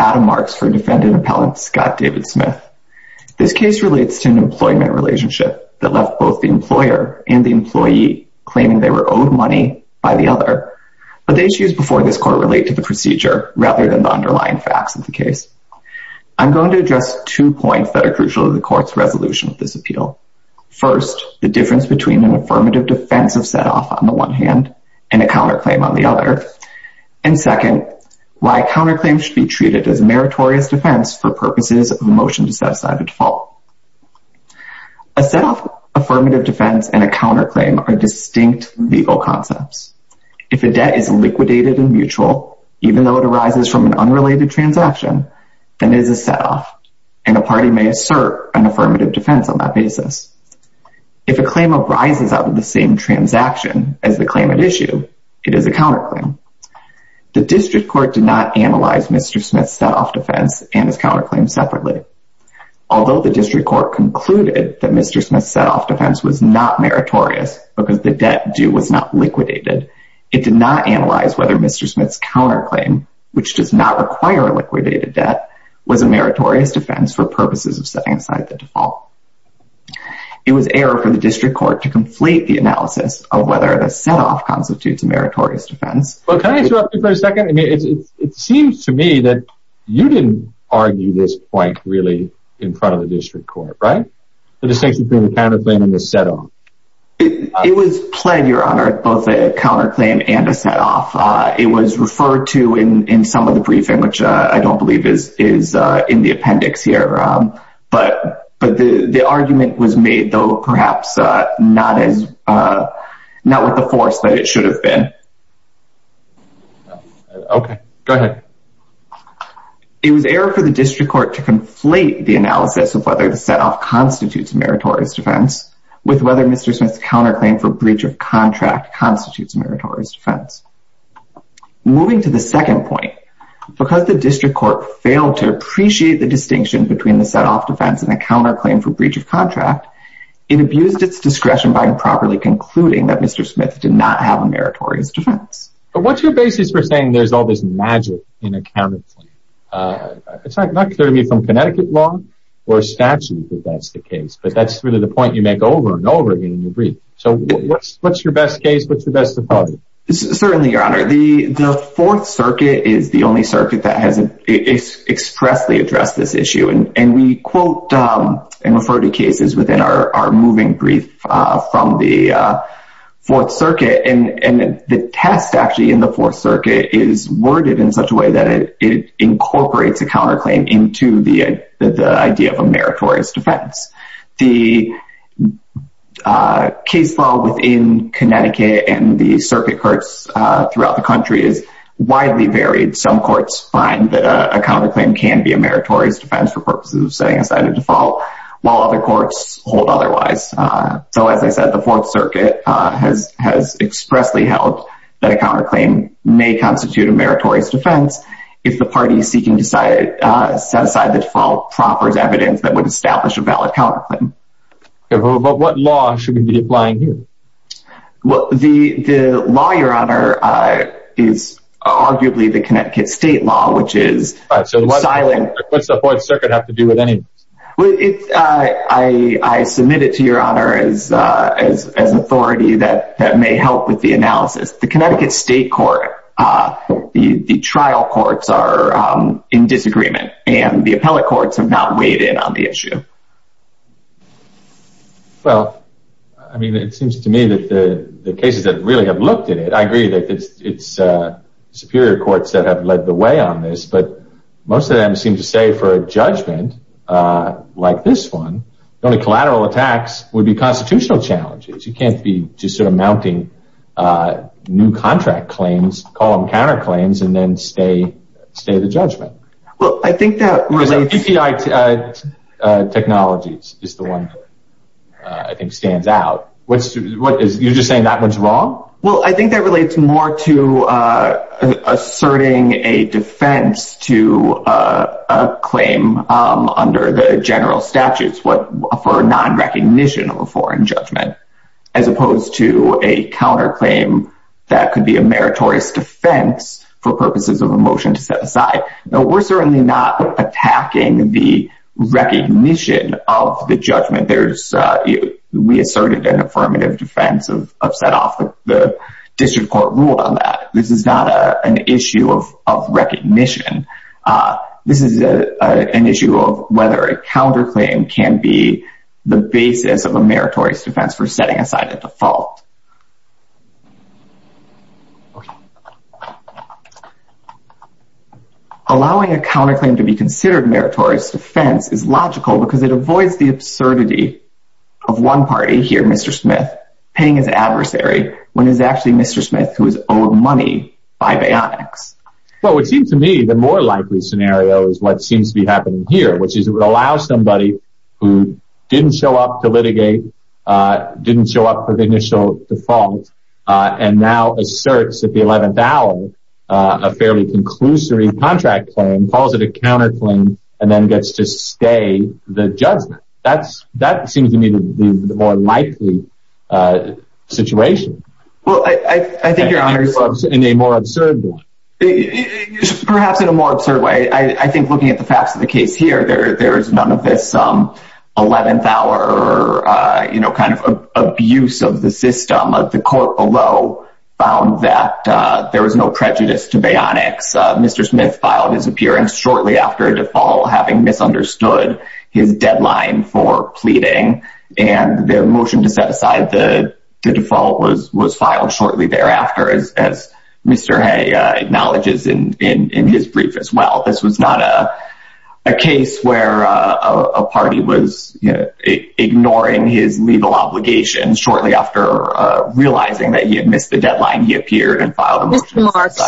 Adam Marks v. Defendant Appellant Scott David Smith This case relates to an employment relationship that left both the employer and the employee claiming they were owed money by the other, but the issues before this court relate to the procedure rather than the underlying facts of the case. I'm going to address two points that are crucial to the court's resolution of this appeal. First, the difference between an affirmative defense of set-off on the one hand and a counterclaim on the other, and second, why counterclaims should be treated as meritorious defense for purposes of a motion to set aside a default. A set-off affirmative defense and a counterclaim are distinct legal concepts. If a debt is liquidated in mutual, even though it arises from an unrelated transaction, then it is a set-off and a party may assert an affirmative defense on that basis. If a claim arises out of the same transaction as the claim at issue, it is a counterclaim. The district court did not analyze Mr. Smith's set-off defense and his counterclaim separately. Although the district court concluded that Mr. Smith's set-off defense was not meritorious because the debt due was not liquidated, it did not analyze whether Mr. Smith's counterclaim, which does not require a liquidated debt, was a meritorious defense for purposes of setting aside the default. It was error for the district court to complete the analysis of whether the set-off constitutes a meritorious defense. Well, can I interrupt you for a second? I mean, it seems to me that you didn't argue this point really in front of the district court, right? The distinction between the counterclaim and the set-off. It was pled, Your Honor, both a counterclaim and a set-off. It was referred to in some of the briefing, which I don't believe is in the appendix here. But the argument was made, though, perhaps not with the force that it should have been. Okay, go ahead. It was error for the district court to conflate the analysis of whether the set-off constitutes a meritorious defense with whether Mr. Smith's counterclaim for breach of contract constitutes a meritorious defense. Moving to the second point, because the district court failed to appreciate the distinction between the set-off defense and the counterclaim for breach of contract, it abused its discretion by improperly concluding that Mr. Smith did not have a meritorious defense. But what's your basis for saying there's all this magic in a counterclaim? It's not clear to me from Connecticut law or statute that that's the case, but that's really the point you make over and over again in your brief. So what's your best case? What's the best of both? Certainly, Your Honor. The Fourth Circuit is the only circuit that has expressly addressed this issue. And we quote and refer to cases within our moving brief from the Fourth Circuit. And the test, actually, in the Fourth Circuit is worded in such a way that it incorporates a counterclaim into the idea of a meritorious defense. The case law within Connecticut and the circuit courts throughout the country is widely varied. Some find that a counterclaim can be a meritorious defense for purposes of setting aside a default, while other courts hold otherwise. So as I said, the Fourth Circuit has expressly held that a counterclaim may constitute a meritorious defense if the party seeking to set aside the default proffers evidence that would establish a valid counterclaim. But what law should we be applying here? Well, the law, Your Honor, is arguably the Connecticut state law, which is silent. So what does the Fourth Circuit have to do with any of this? Well, I submit it to Your Honor as authority that may help with the analysis. The Connecticut state court, the trial courts are in disagreement, and the appellate courts have not weighed in on the issue. Well, I mean, it seems to me that the cases that really have looked at it, I agree that it's superior courts that have led the way on this. But most of them seem to say for a judgment, like this one, the only collateral attacks would be constitutional challenges. You can't be just sort of mounting new contract claims, call them counterclaims, and then stay the judgment. Well, I think that relates... Because API technologies is the one that I think stands out. You're just saying that one's wrong? Well, I think that relates more to asserting a defense to a claim under the general statutes for non-recognition of a foreign judgment, as opposed to a counterclaim that could be a counterclaim. We're certainly not attacking the recognition of the judgment. We asserted an affirmative defense of set off the district court rule on that. This is not an issue of recognition. This is an issue of whether a counterclaim can be the basis of a meritorious defense for setting aside a default. Allowing a counterclaim to be considered a meritorious defense is logical because it avoids the absurdity of one party here, Mr. Smith, paying his adversary, when it's actually Mr. Smith who is owed money by bionics. Well, it seems to me the more likely scenario is what seems to be happening here, which is it allows somebody who didn't show up to litigate, didn't show up for the initial default, and now asserts at the 11th hour a fairly conclusory contract claim, calls it a counterclaim, and then gets to stay the judgment. That seems to me to be the more likely situation. Well, I think you're honoring- In a more absurd way. Perhaps in a more absurd way. I think looking at the facts of the case here, there's none of this 11th hour, you know, kind of abuse of the system. The court below found that there was no prejudice to bionics. Mr. Smith filed his appearance shortly after a default, having misunderstood his deadline for pleading, and their motion to set aside the default was filed shortly thereafter, as Mr. Hay acknowledges in his brief as well. This was not a case where a party was ignoring his legal obligations shortly after realizing that he had missed the deadline, he appeared and filed a motion- Mr. Marks,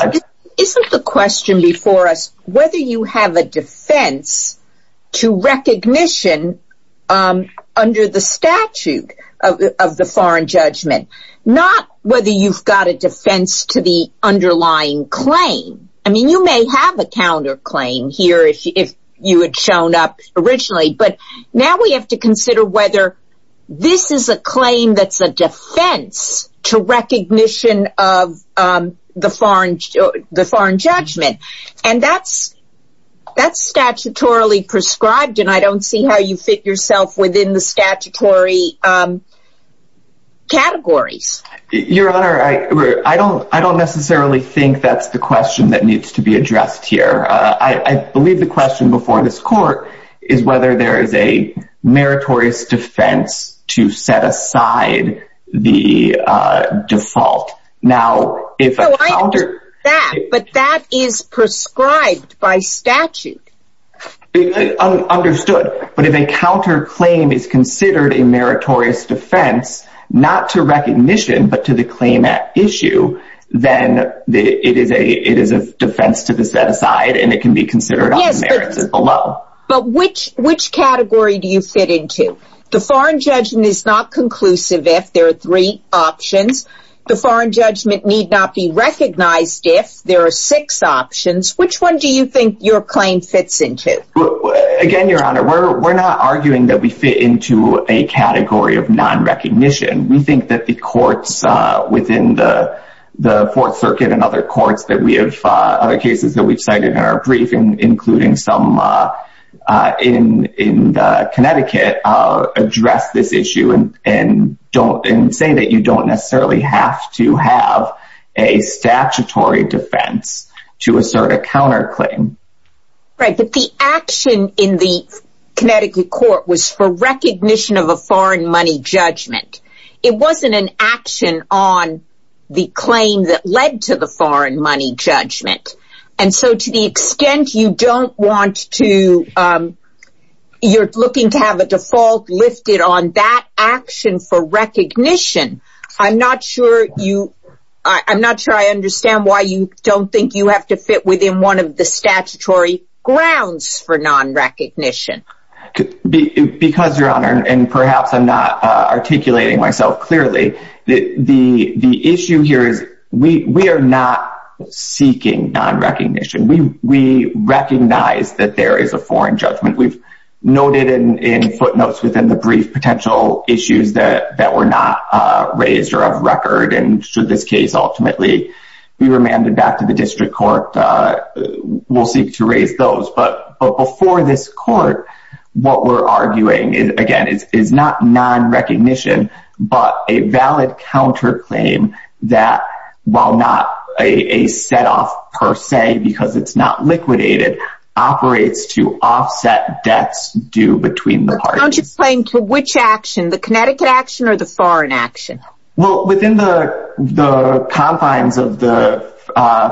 isn't the question before us whether you have a defense to recognition under the statute of the foreign judgment, not whether you've got a defense to the underlying claim. I mean, you may have a counterclaim here if you had shown up originally, but now we have to consider whether this is a claim that's a defense to recognition of the foreign judgment. And that's, that's statutorily prescribed. And I don't see how you fit yourself within the statutory categories. Your Honor, I don't, I don't necessarily think that's the question that needs to be addressed here. I believe the question before this court is whether there is a meritorious defense to set aside the default. Now, if- No, I understand that, but that is prescribed by statute. Understood. But if a counterclaim is considered a meritorious defense, not to recognition, but to the claim at issue, then it is a, it is a defense to the set aside, and it can be considered on the merits below. But which, which category do you fit into? The foreign judgment is not conclusive if there are three options. The foreign judgment need not be recognized if there are six options. Which one do you think your claim fits into? Again, Your Honor, we're, we're not arguing that we fit into a category of non-recognition. We think that the courts within the, the Fourth Circuit and other courts that we have, other cases that we've cited in our briefing, including some in, in Connecticut, address this issue and, and don't, and say that you don't necessarily have to have a statutory defense to assert a counterclaim. Right, but the action in the Connecticut court was for recognition of a foreign money judgment. It wasn't an action on the claim that led to the foreign money judgment. And so to the extent you don't want to, you're looking to have a default lifted on that action for recognition. I'm not sure you, I'm not sure I understand why you don't think you have to fit within one of the statutory grounds for non-recognition. Because Your Honor, and perhaps I'm not articulating myself clearly, the, the, the issue here is we, we are not seeking non-recognition. We, we recognize that there is a foreign judgment. We've noted in, in footnotes within the brief potential issues that, that were not raised or of record. And should this case ultimately be remanded back to the district court, we'll seek to raise those. But before this court, what we're arguing is, again, is not non-recognition, but a valid counterclaim that while not a, a set off per se, because it's not liquidated, operates to offset debts due between the parties. But counterclaim to which action? The Connecticut action or the foreign action? Well, within the, the confines of the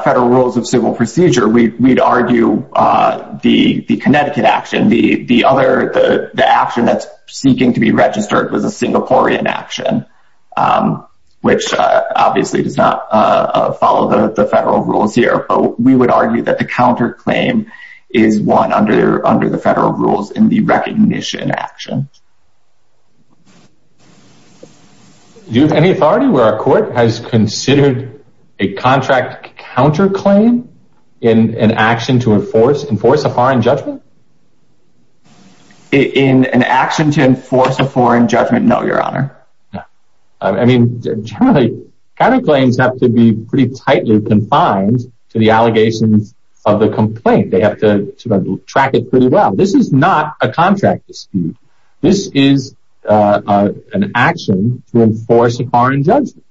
federal rules of civil procedure, we'd argue the, the Connecticut action, the, the other, the, the action that's seeking to be registered was a Singaporean action, which obviously does not follow the federal rules here. But we would argue that the counterclaim is one under, under the federal rules in the recognition action. Do you have any authority where a court has considered a contract counterclaim in an action to enforce, enforce a foreign judgment? In an action to enforce a foreign judgment? No, Your Honor. I mean, counterclaims have to be pretty tightly confined to the allegations of the complaint. They have to track it pretty well. This is not a contract dispute. This is an action to enforce a foreign judgment.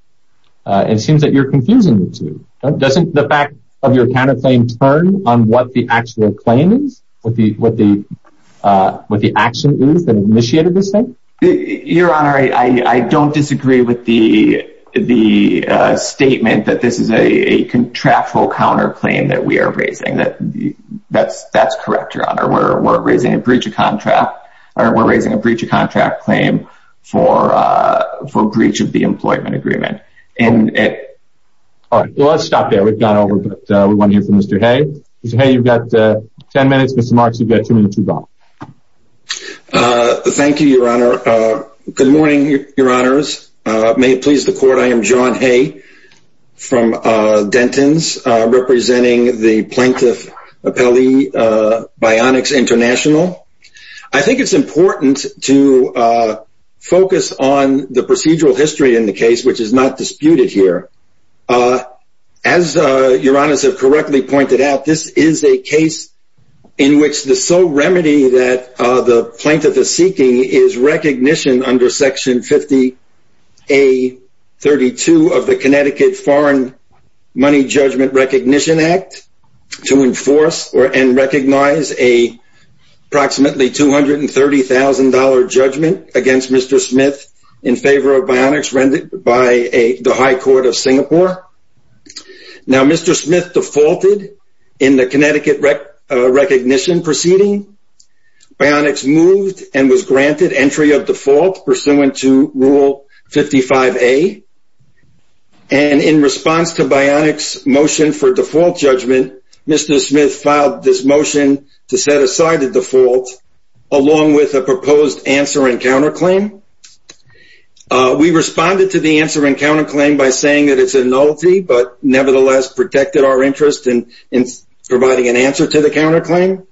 It seems that you're confusing the two. Doesn't the fact of your counterclaim turn on what the actual claim is? What the, what the, what the action is that initiated this thing? Your Honor, I, I don't disagree with the, the statement that this is a contractual counterclaim that we are raising that that's, that's correct, Your Honor. We're, we're raising a breach of contract, or we're raising a breach of contract claim for, for breach of the employment agreement. And, all right, well, let's stop there. We've gone over, but we want to hear from Mr. Hay. Mr. Hay, you've got 10 minutes. Mr. Marks, you've got two minutes to go. Thank you, Your Honor. Good morning, Your Honors. May it please the court. I am John Hay from Dentons, representing the Plaintiff Appellee Bionics International. I think it's important to focus on the procedural history in the case, which is not disputed here. As Your Honors have correctly pointed out, this is a case in which the sole remedy that the plaintiff is seeking is recognition under Section 50A-32 of the Connecticut Foreign Money Judgment Recognition Act to enforce or, and recognize a approximately $230,000 judgment against Mr. Smith in favor of bionics rendered by the High Court of Singapore. Now, Mr. Smith defaulted in the Connecticut recognition proceeding. Bionics moved and was granted entry of default pursuant to Rule 55A. And in response to bionics motion for default judgment, Mr. Smith filed this motion to set aside the default along with a proposed answer and counterclaim. We responded to the answer and counterclaim by saying that it's a nullity, but nevertheless protected our interest in providing an answer to the counterclaim.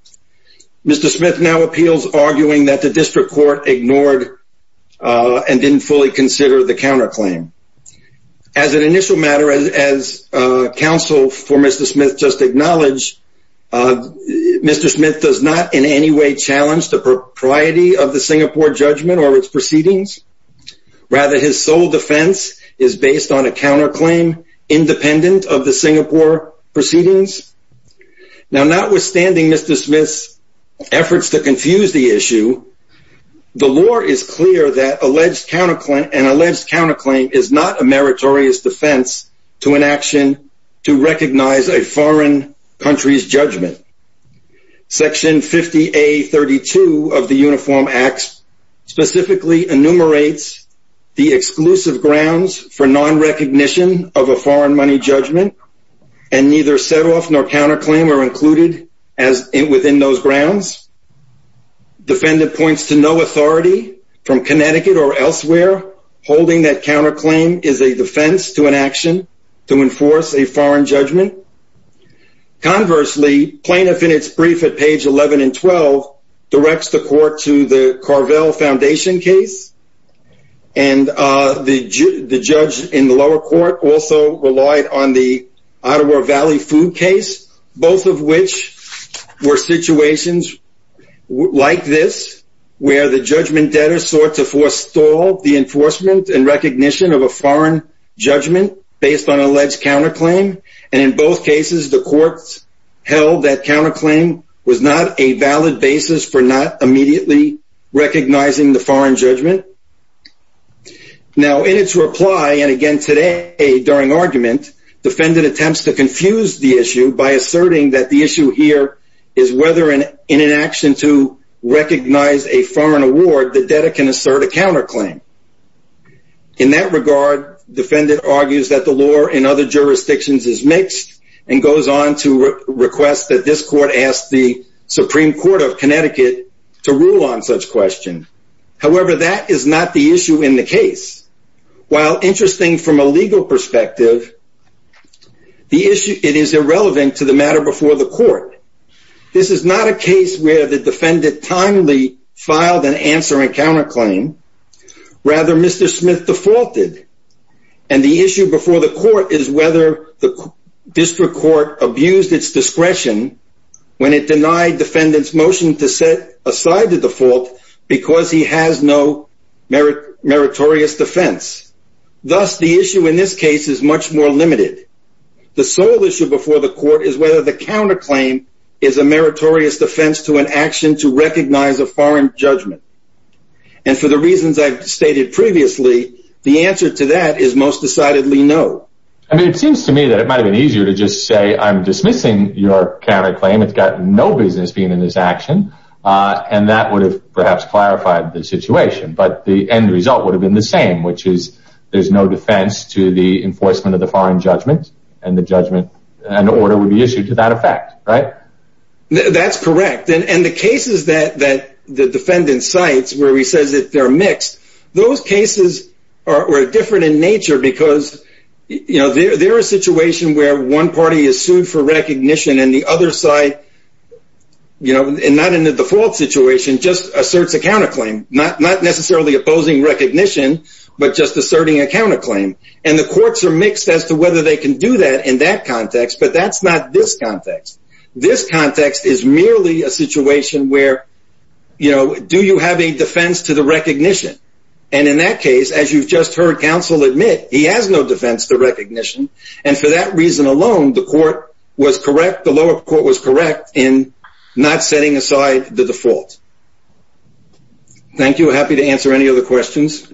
Mr. Smith now appeals arguing that the district court ignored and didn't fully consider the counterclaim. As an initial matter, as counsel for Mr. Smith just acknowledged, Mr. Smith does not in any way challenge the propriety of the Singapore judgment or its proceedings. Rather, his sole defense is based on a counterclaim independent of the Singapore proceedings. Now, notwithstanding Mr. Smith's efforts to confuse the issue, the law is clear that an alleged counterclaim is not a meritorious defense to an action to foreign country's judgment. Section 50A32 of the Uniform Acts specifically enumerates the exclusive grounds for non-recognition of a foreign money judgment and neither setoff nor counterclaim are included within those grounds. Defendant points to no authority from Connecticut or elsewhere holding that counterclaim is a defense to an action to enforce a foreign judgment. Conversely, plaintiff in its brief at page 11 and 12 directs the court to the Carvel Foundation case and the judge in the lower court also relied on the Ottawa Valley food case, both of which were situations like this where the judgment debtor sought to forestall the enforcement and the court held that counterclaim was not a valid basis for not immediately recognizing the foreign judgment. Now, in its reply, and again today during argument, defendant attempts to confuse the issue by asserting that the issue here is whether in an action to recognize a foreign award the debtor can assert a counterclaim. In that regard, defendant argues that the law in other jurisdictions is mixed and goes on to request that this court ask the Supreme Court of Connecticut to rule on such question. However, that is not the issue in the case. While interesting from a legal perspective, the issue it is irrelevant to the matter before the court. This is not a case where the defendant timely filed an answer and counterclaim. Rather, Mr. Smith defaulted. And the issue before the court is whether the district court abused its discretion when it denied defendants motion to set aside the default because he has no merit meritorious defense. Thus, the issue in this case is much more limited. The sole issue before the court is whether the counterclaim is a meritorious defense to an action to recognize a foreign judgment. And for the reasons I've stated previously, the answer to that is most decidedly no. I mean, it seems to me that it might have been easier to just say I'm dismissing your counterclaim. It's got no business being in this action. And that would have perhaps clarified the situation. But the end result would have been the same, which is there's no defense to the enforcement of the foreign judgment and the judgment and order would be issued to that effect, right? That's correct. And the cases that the defendant cites where he says that they're mixed, those cases are different in nature because, you know, they're a situation where one party is sued for recognition and the other side, you know, and not in the default situation, just asserts a counterclaim, not necessarily opposing recognition, but just asserting a counterclaim. And the courts are mixed as to whether they can do that in that context. But that's not this context. This context is merely a situation where, you know, do you have a defense to the recognition? And in that case, as you've just heard, counsel admit he has no defense to recognition. And for that reason alone, the court was correct. The lower court was correct in not setting aside the default. Thank you. Happy to answer any other questions.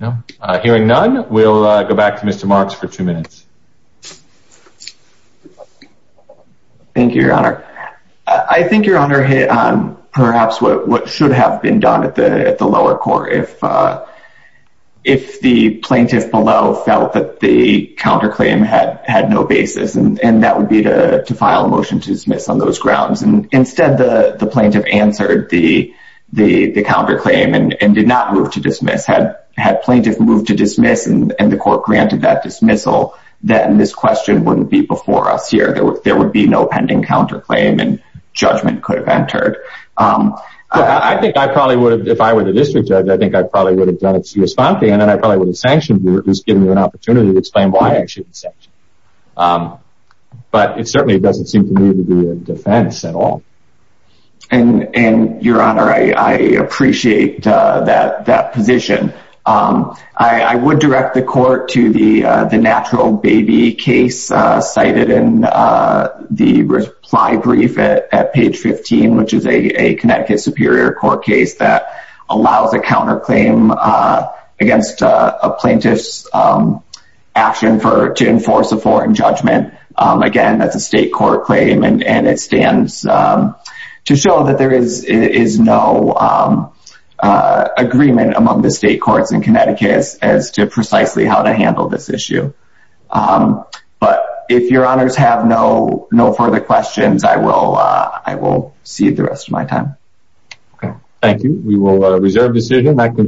No, hearing none. We'll go back to Mr. Marks for two minutes. Thank you, Your Honor. I think, Your Honor, perhaps what should have been done at the lower court if the plaintiff below felt that the counterclaim had no basis, and that would be to file a motion to dismiss on those grounds. And instead, the plaintiff answered the counterclaim and did not move to dismiss. Had plaintiff moved to dismiss and the court granted that dismissal, then this question wouldn't be before us here, there would be no pending counterclaim and judgment could have entered. I think I probably would have if I were the district judge, I think I probably would have done it. And then I probably would have sanctioned it was given me an opportunity to explain why I should. But it certainly doesn't seem to me to be a defense at all. And and Your Honor, I appreciate that that position. I would direct the court to the natural baby case cited in the reply brief at page 15, which is a Connecticut Superior Court case that allows a counterclaim against a plaintiff's action for to enforce a foreign judgment. Again, that's a state court claim. And it stands to show that there is is no agreement among the state courts in Connecticut as to precisely how to handle this issue. But if Your Honors have no no further questions, I will. I will see the rest of my time. Thank you. We will reserve decision that concludes